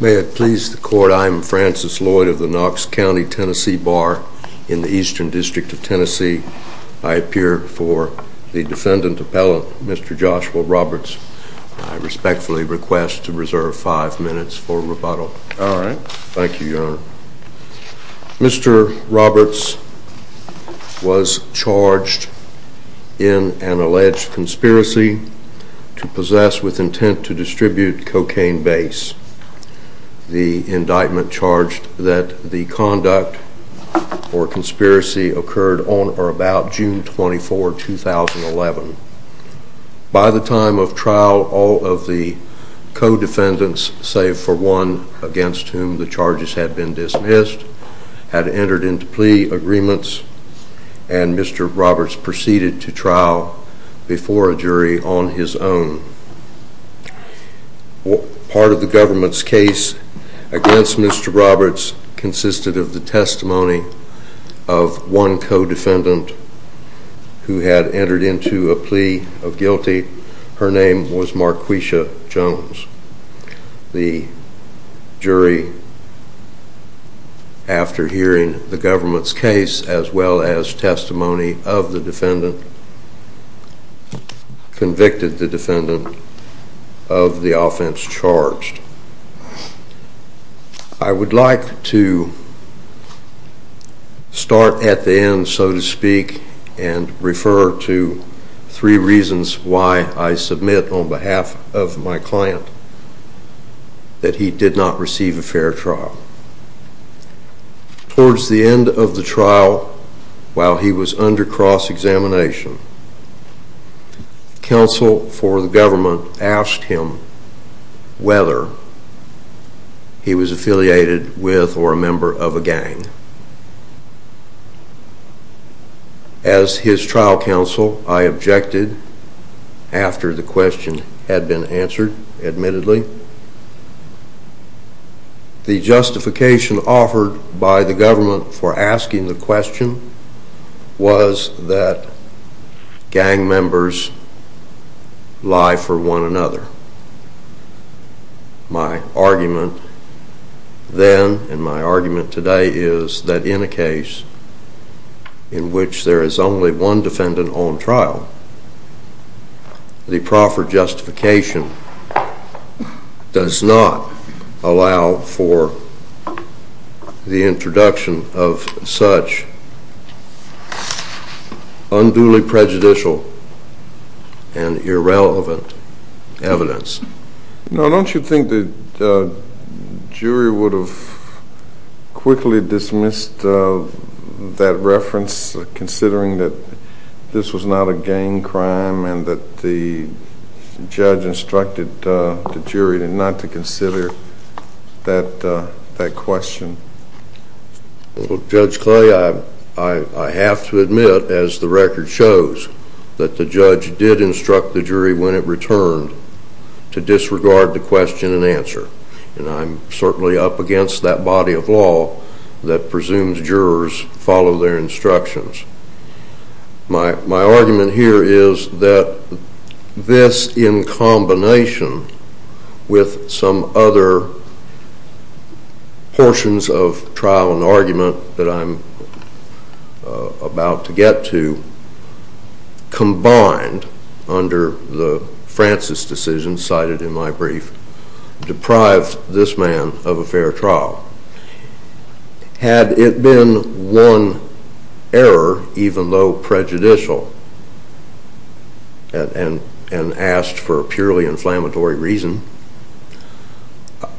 May it please the Court, I am Francis Lloyd of the Knox County, Tennessee Bar in the Eastern District of Tennessee. I appear for the defendant appellant, Mr. Joshua Roberts. I respectfully request to reserve five minutes for rebuttal. Thank you, Your Honor. Mr. Roberts was charged in an alleged conspiracy to possess with intent to distribute cocaine base. The indictment charged that the conduct or conspiracy occurred on or about June 24, 2011. By the time of co-defendants, save for one against whom the charges had been dismissed, had entered into plea agreements, and Mr. Roberts proceeded to trial before a jury on his own. Part of the government's case against Mr. Roberts consisted of the testimony of one co-defendant who had entered into a plea of guilty. Her name was Marquisha Jones. The jury, after hearing the government's case, as well as testimony of the defendant, convicted the defendant of the refer to three reasons why I submit on behalf of my client that he did not receive a fair trial. Towards the end of the trial, while he was under cross-examination, counsel for the government asked him whether he was affiliated with or a member of a gang. As his trial counsel, I objected after the question had been answered, admittedly. The justification offered by the government for My argument then, and my argument today, is that in a case in which there is only one defendant on trial, the proffered justification does not allow for the introduction of such unduly prejudicial and irrelevant evidence. Now, don't you think the jury would have quickly dismissed that reference, considering that this was not a gang crime and that the judge instructed the jury not to consider that question? Well, Judge Clay, I have to admit, as the record shows, that the judge did instruct the jury when it returned to disregard the question and answer. And I'm certainly up against that body of law that presumes jurors follow their instructions. My argument here is that this, in combination with some other portions of trial and argument that I'm about to get to, combined under the Francis decision cited in my brief, deprived this man of a fair trial. Had it been one error, even though prejudicial, and asked for a purely inflammatory reason,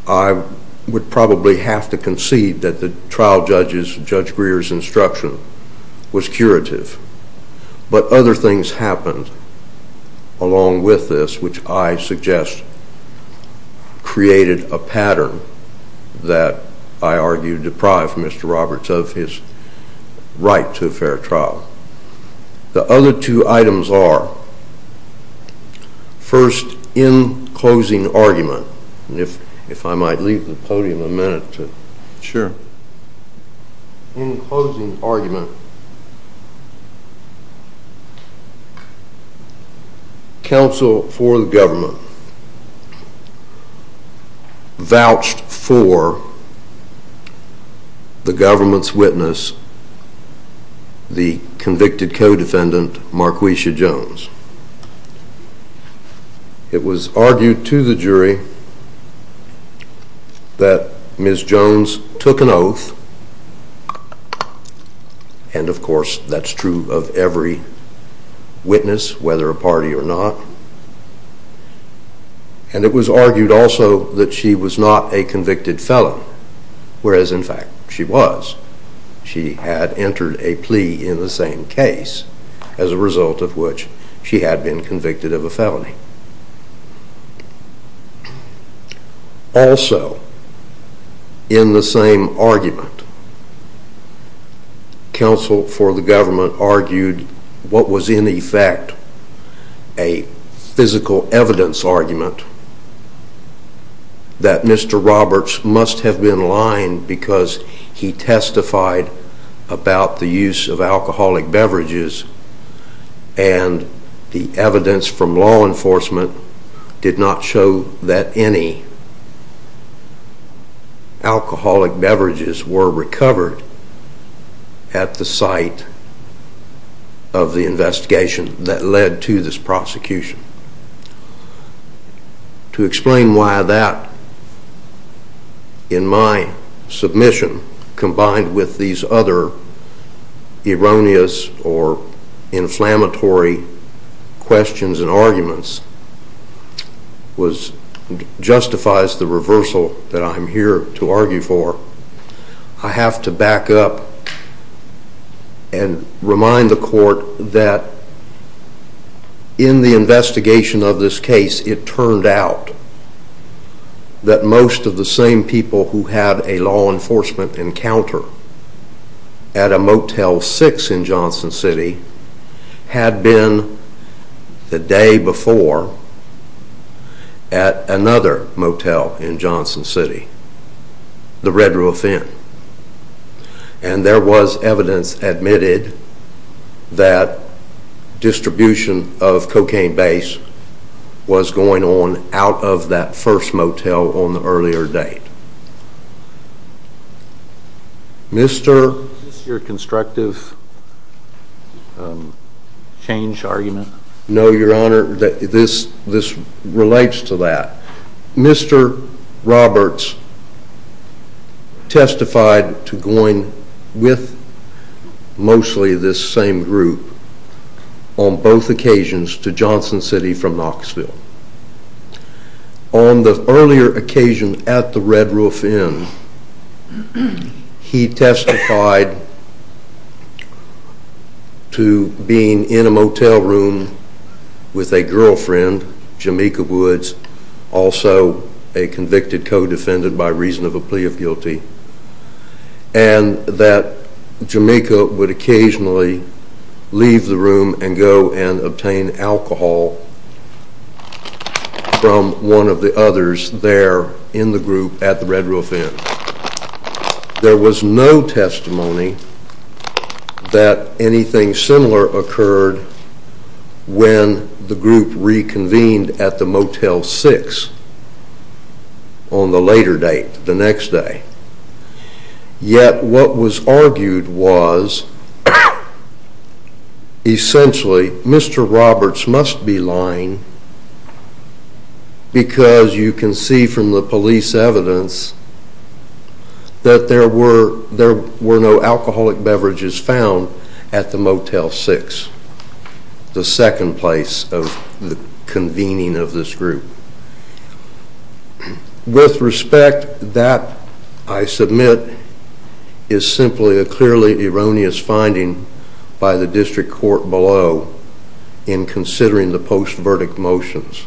I would probably have to concede that the trial judge's, Judge Greer's, instruction was curative. But other things happened along with this, which I suggest created a pattern that I argue deprived Mr. Wright to a fair trial. The other two items are, first, in closing argument, and if I might leave the podium a minute to... counsel for the government vouched for the government's witness, the convicted co-defendant Marquisha Jones. It was argued to the jury that Ms. Jones took an oath, and of course that's true of every witness, whether a party or not. And it was argued also that she was not a convicted felon, whereas in fact she was. She had entered a plea in the same case, as a result of which she had been convicted of a felony. Also, in the same argument, counsel for the government argued what was in effect a physical evidence argument that Mr. Roberts must have been lying because he testified about the use of alcoholic beverages, and the evidence from law enforcement did not show that any alcoholic beverages were recovered at the site of the investigation that led to this prosecution. To explain why that, in my opinion, justifies the reversal that I'm here to argue for, I have to back up and remind the court that in the investigation of this case, it turned out that most of the same people who had a law enforcement encounter at a Motel 6 in Johnson City had been the day before at another motel in Johnson City, the Red Roof Inn, and there was evidence admitted that distribution of cocaine base was going on out of that first motel on the earlier date. Is this your constructive change argument? No, Your Honor, this relates to that. Mr. Roberts testified to going with mostly this same group on both occasions to Johnson City from Knoxville. On the earlier occasion at the Red Roof Inn, he testified to being in a motel room with a girlfriend, Jamaica Woods, also a convicted co-defendant by reason of a plea of guilty, and that Jamaica would occasionally leave the room and go and obtain alcohol from one of the others there in the group at the Red Roof Inn. There was no testimony that anything similar occurred when the group reconvened at the Motel 6 on the later date, the next day. Yet what was argued was, essentially, Mr. Roberts must be lying because you can see from the police evidence that there were no alcoholic beverages found at the Motel 6, the second place of the convening of this group. With respect, that, I submit, is simply a clearly erroneous finding by the District Court below in considering the post-verdict motions.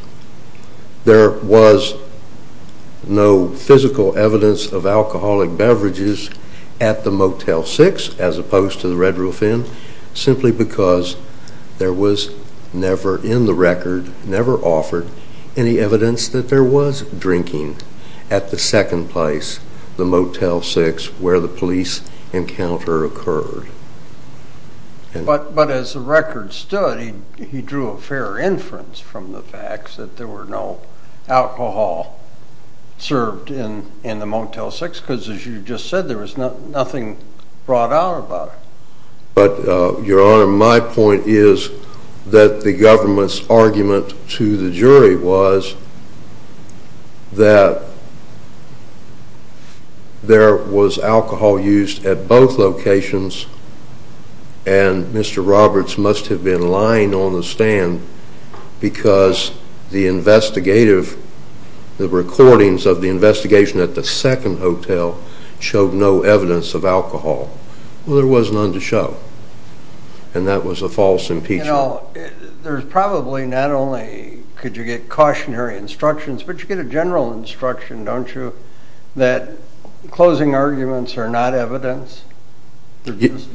There was no physical evidence of alcoholic beverages at the Motel 6, as opposed to the Red Roof Inn, simply because there was never in the record, never offered any evidence that there was drinking at the second place, the Motel 6, where the police encounter occurred. But as the record stood, he drew a fair inference from the facts that there were no alcohol served in the Motel 6, because as you just said, there was nothing brought out about it. But, Your Honor, my point is that the government's argument to the jury was that there was alcohol used at both locations and Mr. Roberts must have been lying on the stand because the investigative, the recordings of the investigation at the second hotel showed no evidence of alcohol. Well, there was none to show, and that was a false impeachment. You know, there's probably not only could you get cautionary instructions, but you get a general instruction, don't you, that closing arguments are not evidence?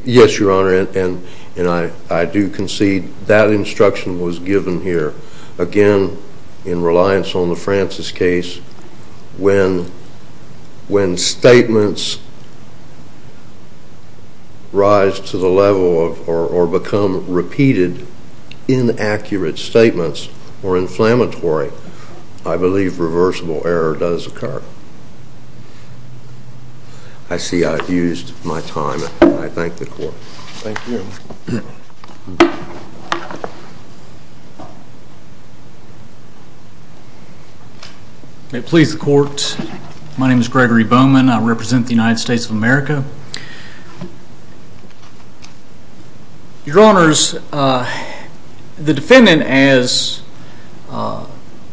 Yes, Your Honor, and I do concede that instruction was given here. Again, in reliance on the Francis case, when statements rise to the level of, or become repeated, inaccurate statements, or inflammatory, I believe reversible error does occur. I see I've used my time. I thank the Court. Thank you. May it please the Court, my name is Gregory Bowman, I represent the United States of America. Your Honors, the defendant, as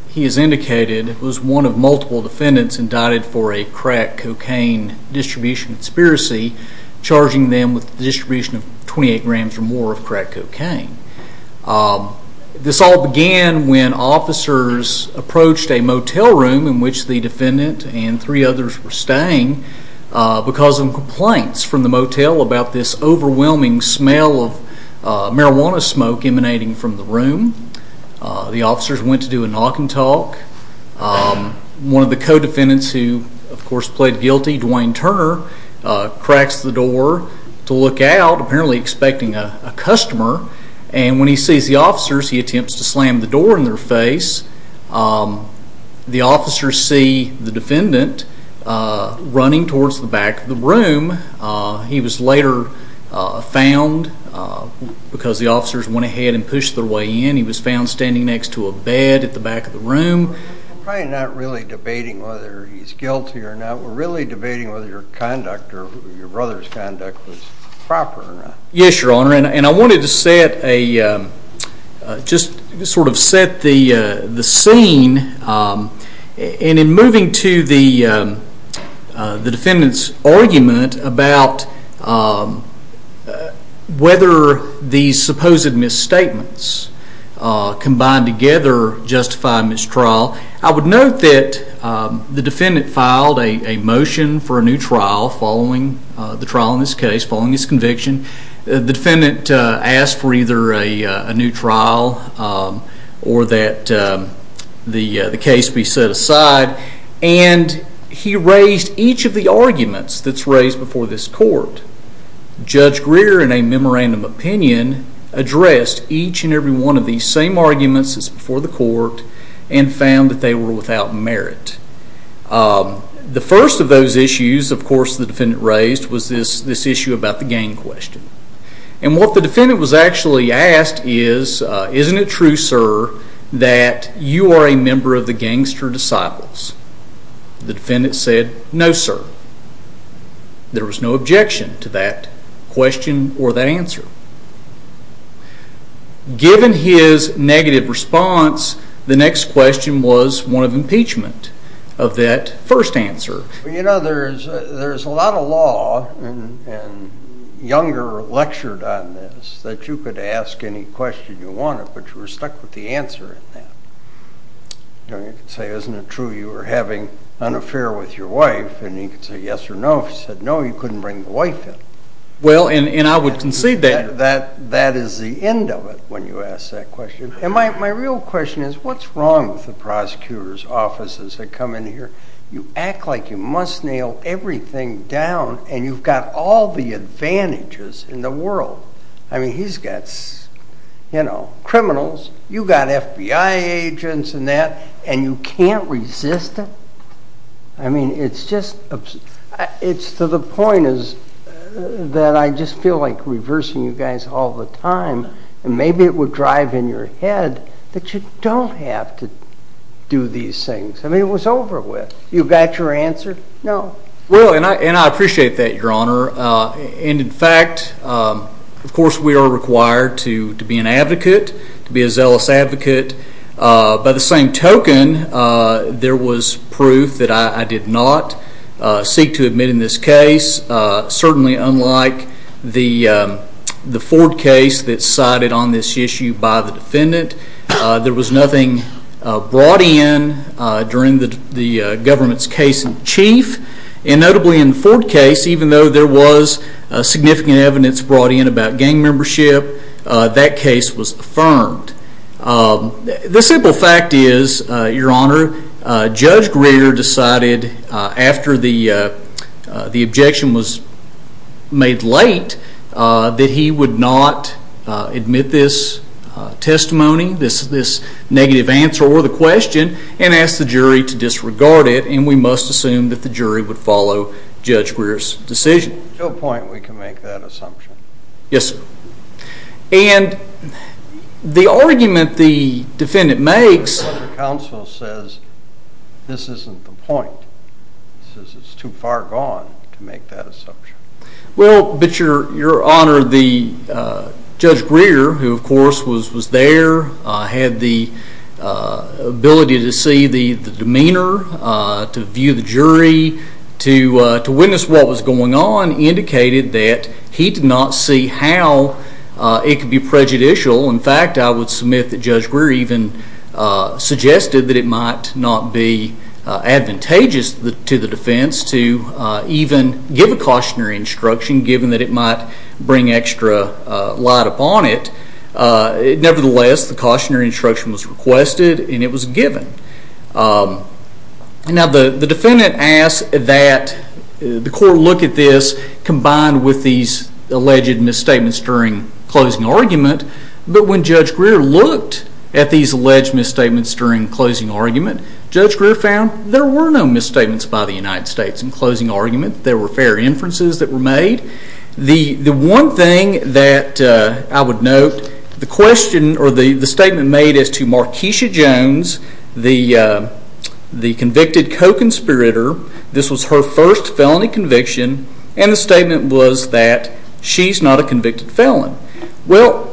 he has indicated, was one of multiple defendants indicted for a crack cocaine distribution conspiracy, charging them with the distribution of 28 grams or more of crack cocaine. This all began when officers approached a motel room in which the defendant and three others were staying because of complaints from the motel about this overwhelming smell of marijuana smoke emanating from the room. The officers went to do a knock and talk. One of the co-defendants who, of course, pled guilty, Dwayne Turner, cracks the door to look out, apparently expecting a customer, and when he sees the officers, he attempts to slam the door in their face. The officers see the defendant running towards the back of the room. He was later found, because the officers went ahead and pushed their way in, he was found standing next to a bed at the back of the room. We're probably not really debating whether he's guilty or not, we're really debating whether your conduct, or your brother's conduct, was proper or not. Yes, Your Honor, and I wanted to set the scene, and in moving to the defendant's argument about whether these supposed misstatements combined together justify a mistrial, I would note that the defendant filed a motion for a new trial following the trial in this case, following his conviction. The defendant asked for either a new trial or that the case be set aside, and he raised each of the arguments that's raised before this court. Judge Greer, in a memorandum opinion, addressed each and every one of these same arguments that's before the court, and found that they were without merit. The first of those issues, of course, the defendant raised was this issue about the gang question. And what the defendant was actually asked is, isn't it true, sir, that you are a member of the Gangster Disciples? The defendant said, no, sir. There was no objection to that question or that answer. Given his negative response, the next question was one of impeachment of that first answer. You know, there's a lot of law, and Younger lectured on this, that you could ask any question you wanted, but you were stuck with the answer. You know, you could say, isn't it true you were having an affair with your wife, and he could say yes or no. If you said no, you couldn't bring the wife in. Well, and I would concede that. That is the end of it, when you ask that question. And my real question is, what's wrong with the prosecutor's offices that come in here? You act like you must nail everything down, and you've got all the advantages in the world. I mean, he's got, you know, criminals. You've got FBI agents and that, and you can't resist it? I mean, it's to the point that I just feel like reversing you guys all the time. And maybe it would drive in your head that you don't have to do these things. I mean, it was over with. You've got your answer? No. Well, and I appreciate that, Your Honor. And, in fact, of course we are required to be an advocate, to be a zealous advocate. By the same token, there was proof that I did not seek to admit in this case. Certainly unlike the Ford case that's cited on this issue by the defendant, there was nothing brought in during the government's case in chief. And notably in the Ford case, even though there was significant evidence brought in about gang membership, that case was affirmed. The simple fact is, Your Honor, Judge Greer decided after the objection was made late that he would not admit this testimony, this negative answer or the question, and asked the jury to disregard it. And we must assume that the jury would follow Judge Greer's decision. To what point we can make that assumption? Yes, sir. And the argument the defendant makes... The counsel says this isn't the point. It says it's too far gone to make that assumption. Well, but, Your Honor, Judge Greer, who of course was there, had the ability to see the demeanor, to view the jury, to witness what was going on, indicated that he did not see how it could be prejudicial. In fact, I would submit that Judge Greer even suggested that it might not be advantageous to the defense to even give a cautionary instruction, given that it might bring extra light upon it. Nevertheless, the cautionary instruction was requested and it was given. Now, the defendant asked that the court look at this combined with these alleged misstatements during closing argument. But when Judge Greer looked at these alleged misstatements during closing argument, Judge Greer found there were no misstatements by the United States in closing argument. There were fair inferences that were made. The one thing that I would note, the statement made as to Markeisha Jones, the convicted co-conspirator, this was her first felony conviction, and the statement was that she's not a convicted felon. Well,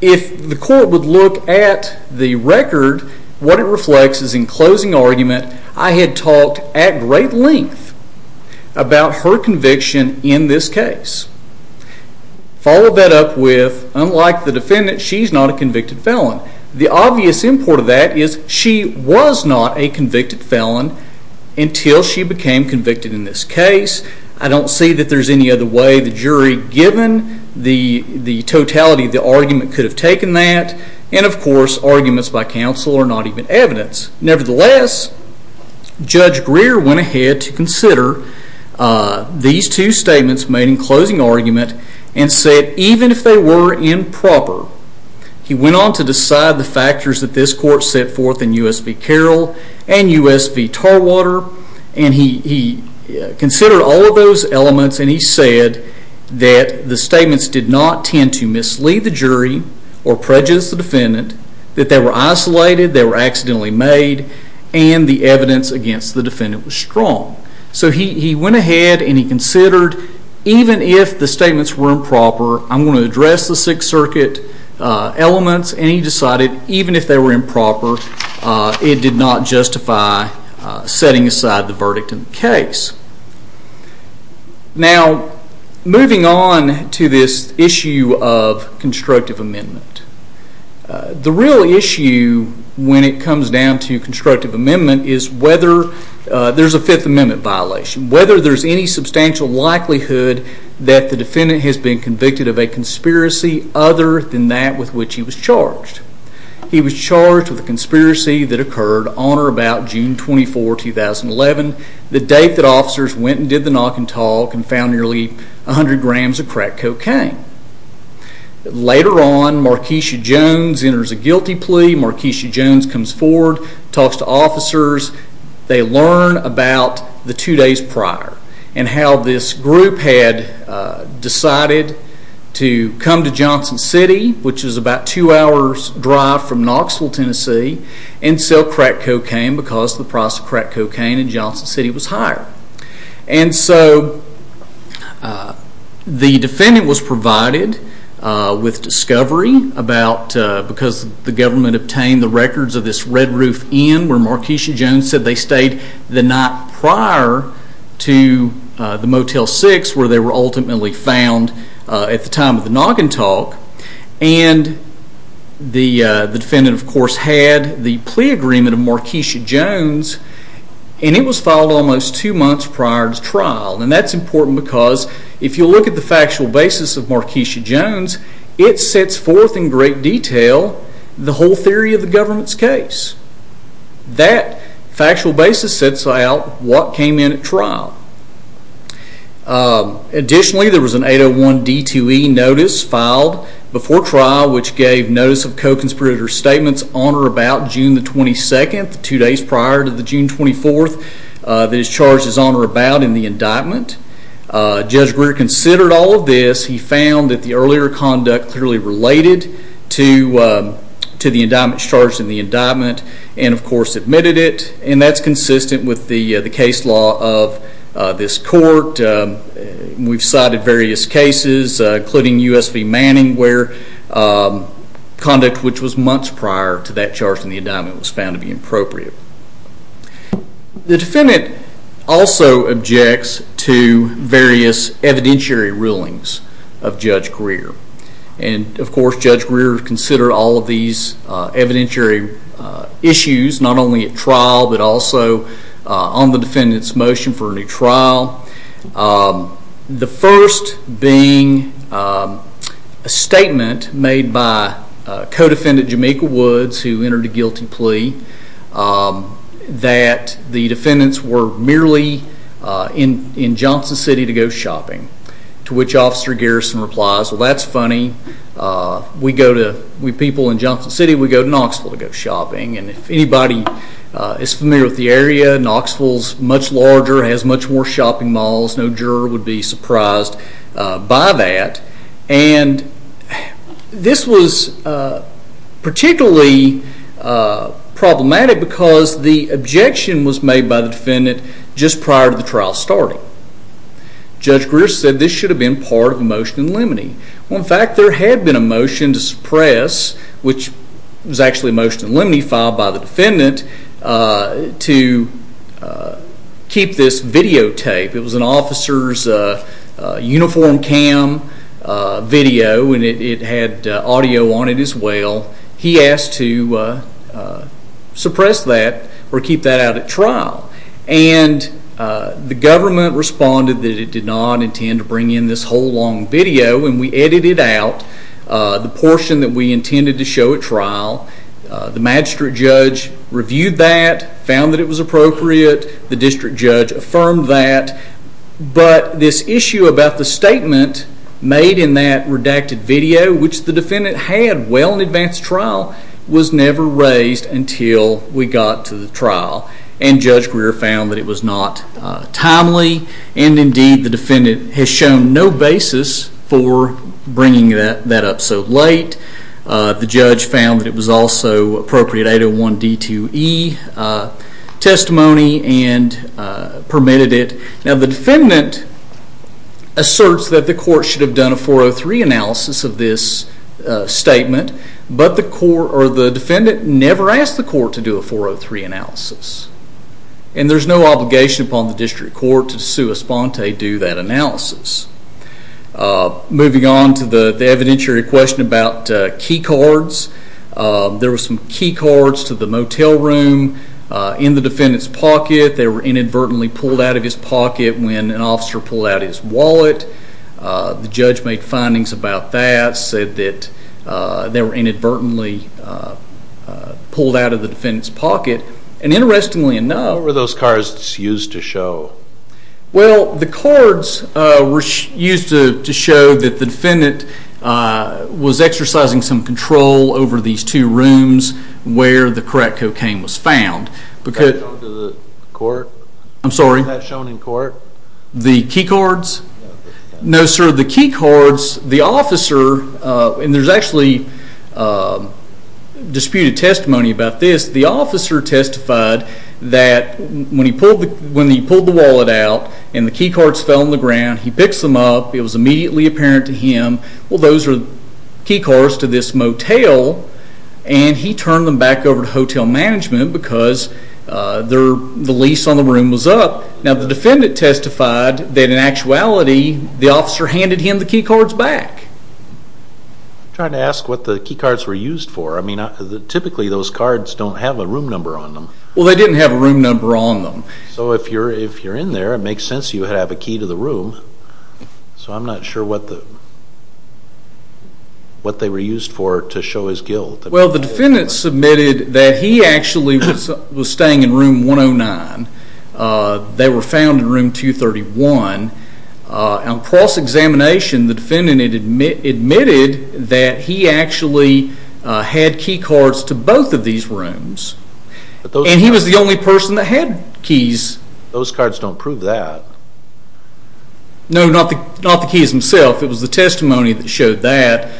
if the court would look at the record, what it reflects is in closing argument, I had talked at great length about her conviction in this case. Follow that up with, unlike the defendant, she's not a convicted felon. The obvious import of that is she was not a convicted felon until she became convicted in this case. I don't see that there's any other way the jury, given the totality of the argument, could have taken that. And of course, arguments by counsel are not even evidence. Nevertheless, Judge Greer went ahead to consider these two statements made in closing argument and said even if they were improper, he went on to decide the factors that this court set forth in U.S. v. Carroll and U.S. v. Tarwater. He considered all of those elements and he said that the statements did not tend to mislead the jury or prejudice the defendant, that they were isolated, they were accidentally made, and the evidence against the defendant was strong. So he went ahead and he considered even if the statements were improper, I'm going to address the Sixth Circuit elements, and he decided even if they were improper, it did not justify setting aside the verdict in the case. Now, moving on to this issue of constructive amendment. The real issue when it comes down to constructive amendment is whether there's a Fifth Amendment violation, whether there's any substantial likelihood that the defendant has been convicted of a conspiracy other than that with which he was charged. He was charged with a conspiracy that occurred on or about June 24, 2011, the date that officers went and did the knock and talk and found nearly 100 grams of crack cocaine. Later on, Markeisha Jones enters a guilty plea. Markeisha Jones comes forward, talks to officers. They learn about the two days prior and how this group had decided to come to Johnson City, which is about two hours' drive from Knoxville, Tennessee, and sell crack cocaine because the price of crack cocaine in Johnson City was higher. And so the defendant was provided with discovery because the government obtained the records of this Red Roof Inn where Markeisha Jones said they stayed the night prior to the Motel 6 where they were ultimately found at the time of the knock and talk. And the defendant, of course, had the plea agreement of Markeisha Jones and it was filed almost two months prior to trial. And that's important because if you look at the factual basis of Markeisha Jones, it sets forth in great detail the whole theory of the government's case. That factual basis sets out what came in at trial. Additionally, there was an 801 D2E notice filed before trial which gave notice of co-conspirator statements on or about June 22, two days prior to June 24, that is charged as on or about in the indictment. Judge Greer considered all of this. He found that the earlier conduct clearly related to the indictment charged in the indictment and, of course, admitted it. And that's consistent with the case law of this court. We've cited various cases including US v. Manning where conduct which was months prior to that charge in the indictment was found to be inappropriate. The defendant also objects to various evidentiary rulings of Judge Greer. And, of course, Judge Greer considered all of these evidentiary issues not only at trial but also on the defendant's motion for a new trial. The first being a statement made by co-defendant Jamaica Woods who entered a guilty plea that the defendants were merely in Johnson City to go shopping to which Officer Garrison replies, Well, that's funny. We people in Johnson City, we go to Knoxville to go shopping. And if anybody is familiar with the area, Knoxville is much larger and has much more shopping malls. No juror would be surprised by that. And this was particularly problematic because the objection was made by the defendant just prior to the trial starting. Judge Greer said this should have been part of a motion in limine. In fact, there had been a motion to suppress which was actually a motion in limine filed by the defendant to keep this videotape. It was an officer's uniform cam video and it had audio on it as well. And the government responded that it did not intend to bring in this whole long video and we edited out the portion that we intended to show at trial. The magistrate judge reviewed that, found that it was appropriate. The district judge affirmed that. But this issue about the statement made in that redacted video which the defendant had well in advance of trial was never raised until we got to the trial. And Judge Greer found that it was not timely and indeed the defendant has shown no basis for bringing that up so late. The judge found that it was also appropriate 801 D2E testimony and permitted it. Now the defendant asserts that the court should have done a 403 analysis of this statement but the defendant never asked the court to do a 403 analysis. And there's no obligation upon the district court to do that analysis. Moving on to the evidentiary question about key cards. There were some key cards to the motel room in the defendant's pocket. They were inadvertently pulled out of his pocket when an officer pulled out his wallet. The judge made findings about that, said that they were inadvertently pulled out of the defendant's pocket. And interestingly enough... What were those cards used to show? Well, the cards were used to show that the defendant was exercising some control over these two rooms where the crack cocaine was found. Was that shown to the court? I'm sorry? Was that shown in court? The key cards? No, sir. The key cards, the officer... And there's actually disputed testimony about this. The officer testified that when he pulled the wallet out and the key cards fell on the ground, he picks them up. It was immediately apparent to him, well, those are key cards to this motel. And he turned them back over to hotel management because the lease on the room was up. Now, the defendant testified that in actuality the officer handed him the key cards back. I'm trying to ask what the key cards were used for. I mean, typically those cards don't have a room number on them. Well, they didn't have a room number on them. So if you're in there, it makes sense you have a key to the room. So I'm not sure what they were used for to show his guilt. Well, the defendant submitted that he actually was staying in room 109. They were found in room 231. On cross-examination, the defendant admitted that he actually had key cards to both of these rooms. And he was the only person that had keys. Those cards don't prove that. No, not the keys themselves. It was the testimony that showed that.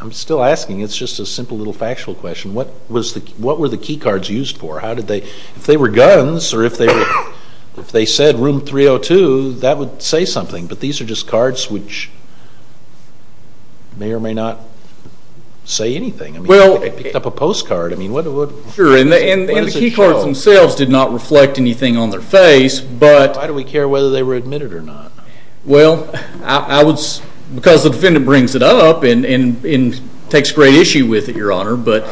I'm still asking. It's just a simple little factual question. What were the key cards used for? If they were guns or if they said room 302, that would say something. But these are just cards which may or may not say anything. They picked up a postcard. Sure, and the key cards themselves did not reflect anything on their face. Why do we care whether they were admitted or not? Well, because the defendant brings it up and takes great issue with it, Your Honor. But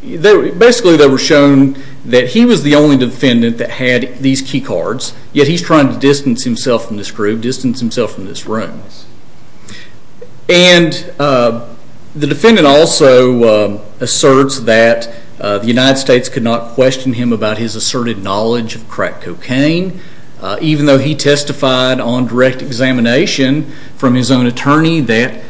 basically they were shown that he was the only defendant that had these key cards, yet he's trying to distance himself from this group, distance himself from this room. And the defendant also asserts that the United States could not question him about his asserted knowledge of crack cocaine, even though he testified on direct examination from his own attorney that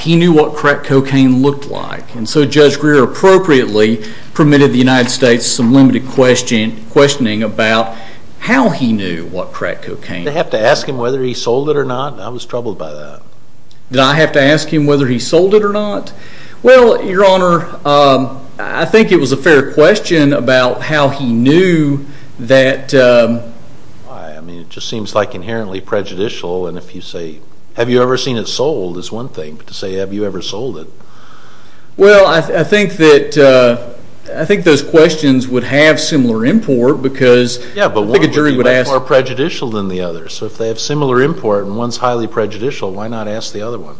he knew what crack cocaine looked like. And so Judge Greer appropriately permitted the United States some limited questioning about how he knew what crack cocaine looked like. Did they have to ask him whether he sold it or not? I was troubled by that. Did I have to ask him whether he sold it or not? Well, Your Honor, I think it was a fair question about how he knew that... I mean, it just seems like inherently prejudicial. And if you say, have you ever seen it sold, is one thing. But to say, have you ever sold it... Well, I think those questions would have similar import because I think a jury would ask... Yeah, but one would be more prejudicial than the other. So if they have similar import and one's highly prejudicial, why not ask the other one?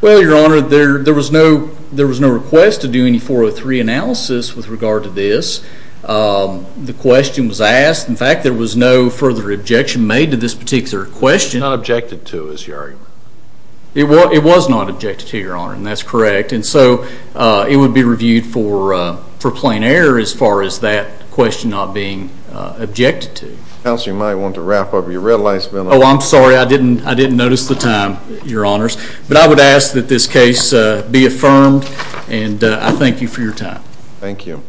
Well, Your Honor, there was no request to do any 403 analysis with regard to this. The question was asked. In fact, there was no further objection made to this particular question. Not objected to, is your argument? It was not objected to, Your Honor, and that's correct. And so it would be reviewed for plain error as far as that question not being objected to. Counsel, you might want to wrap up. Your red light's been on. Oh, I'm sorry. I didn't notice the time, Your Honors. But I would ask that this case be affirmed, and I thank you for your time. Thank you.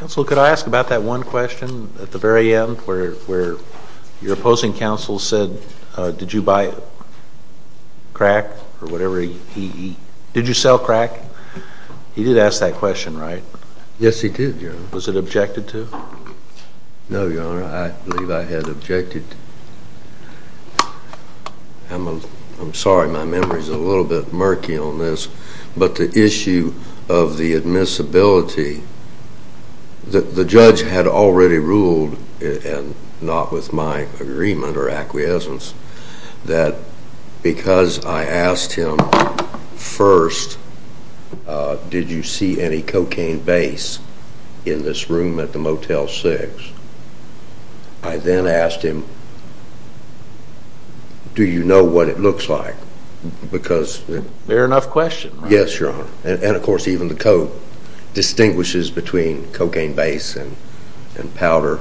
Counsel, could I ask about that one question at the very end where your opposing counsel said, did you buy crack or whatever? Did you sell crack? He did ask that question, right? Yes, he did, Your Honor. Was it objected to? No, Your Honor. I believe I had objected. I'm sorry. My memory's a little bit murky on this. But the issue of the admissibility, the judge had already ruled, and not with my agreement or acquiescence, that because I asked him first, did you see any cocaine base in this room at the Motel 6, I then asked him, do you know what it looks like? Fair enough question. Yes, Your Honor. And, of course, even the code distinguishes between cocaine base and powder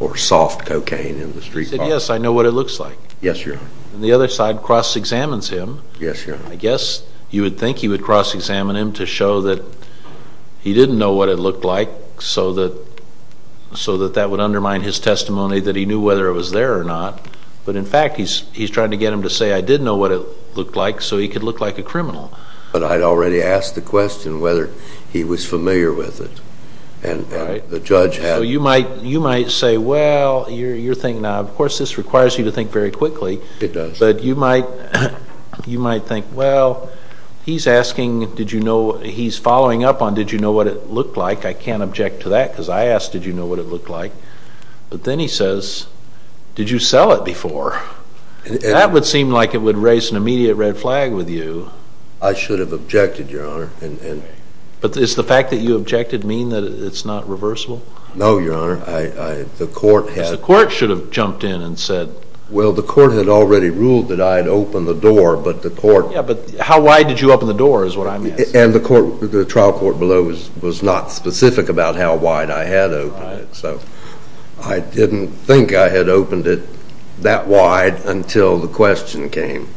or soft cocaine in the street bar. He said, yes, I know what it looks like. Yes, Your Honor. And the other side cross-examines him. Yes, Your Honor. I guess you would think he would cross-examine him to show that he didn't know what it looked like so that that would undermine his testimony that he knew whether it was there or not. But, in fact, he's trying to get him to say, I did know what it looked like, so he could look like a criminal. But I'd already asked the question whether he was familiar with it, and the judge had. So you might say, well, you're thinking now, of course, this requires you to think very quickly. It does. But you might think, well, he's asking, he's following up on, did you know what it looked like? I can't object to that because I asked, did you know what it looked like? But then he says, did you sell it before? That would seem like it would raise an immediate red flag with you. I should have objected, Your Honor. But does the fact that you objected mean that it's not reversible? No, Your Honor. Because the court should have jumped in and said. Well, the court had already ruled that I had opened the door, but the court. Yeah, but how wide did you open the door is what I'm asking. And the trial court below was not specific about how wide I had opened it. So I didn't think I had opened it that wide until the question came.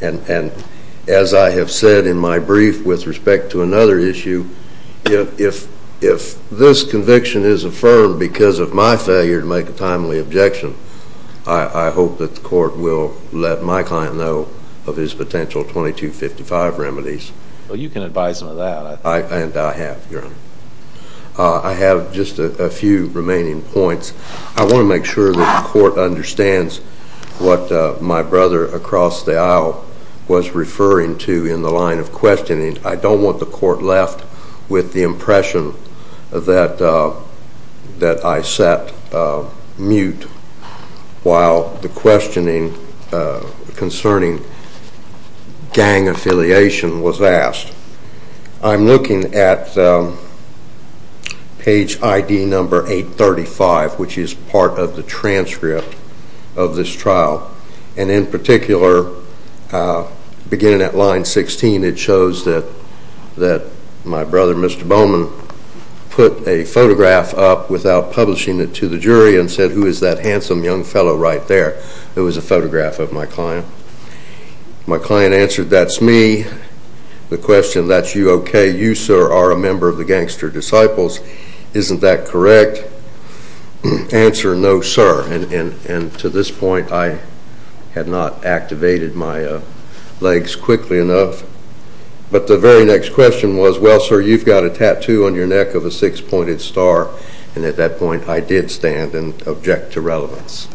And as I have said in my brief with respect to another issue, if this conviction is affirmed because of my failure to make a timely objection, I hope that the court will let my client know of his potential 2255 remedies. Well, you can advise him of that. And I have, Your Honor. I have just a few remaining points. I want to make sure that the court understands what my brother across the aisle was referring to in the line of questioning. I don't want the court left with the impression that I sat mute while the questioning concerning gang affiliation was asked. I'm looking at page ID number 835, which is part of the transcript of this trial. And in particular, beginning at line 16, it shows that my brother, Mr. Bowman, put a photograph up without publishing it to the jury and said, Who is that handsome young fellow right there? It was a photograph of my client. My client answered, That's me. The question, That's you, okay. You, sir, are a member of the Gangster Disciples. Isn't that correct? Answer, No, sir. And to this point, I had not activated my legs quickly enough. But the very next question was, Well, sir, you've got a tattoo on your neck of a six-pointed star. And at that point, I did stand and object to relevance.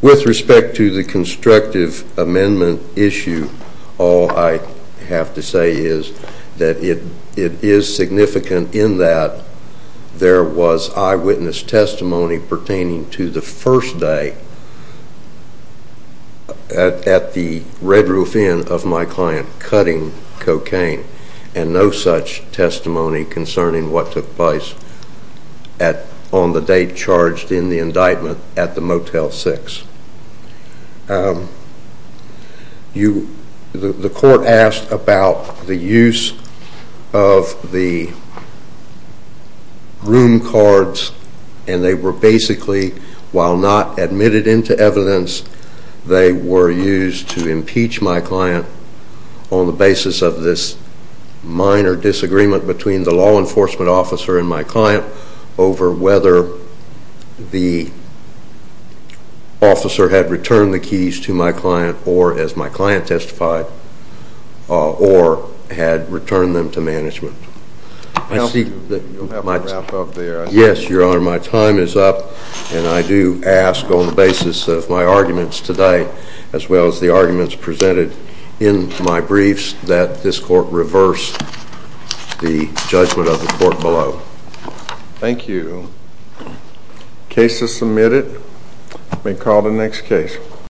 With respect to the constructive amendment issue, all I have to say is that it is significant in that there was eyewitness testimony pertaining to the first day at the Red Roof Inn of my client cutting cocaine and no such testimony concerning what took place on the date charged in the indictment at the Motel 6. The court asked about the use of the room cards, and they were basically, while not admitted into evidence, they were used to impeach my client on the basis of this minor disagreement between the law enforcement officer and my client over whether the officer had returned the keys to my client or, as my client testified, or had returned them to management. I see that my time is up. And I do ask on the basis of my arguments today, as well as the arguments presented in my briefs, that this court reverse the judgment of the court below. Thank you. Case is submitted. May call the next case.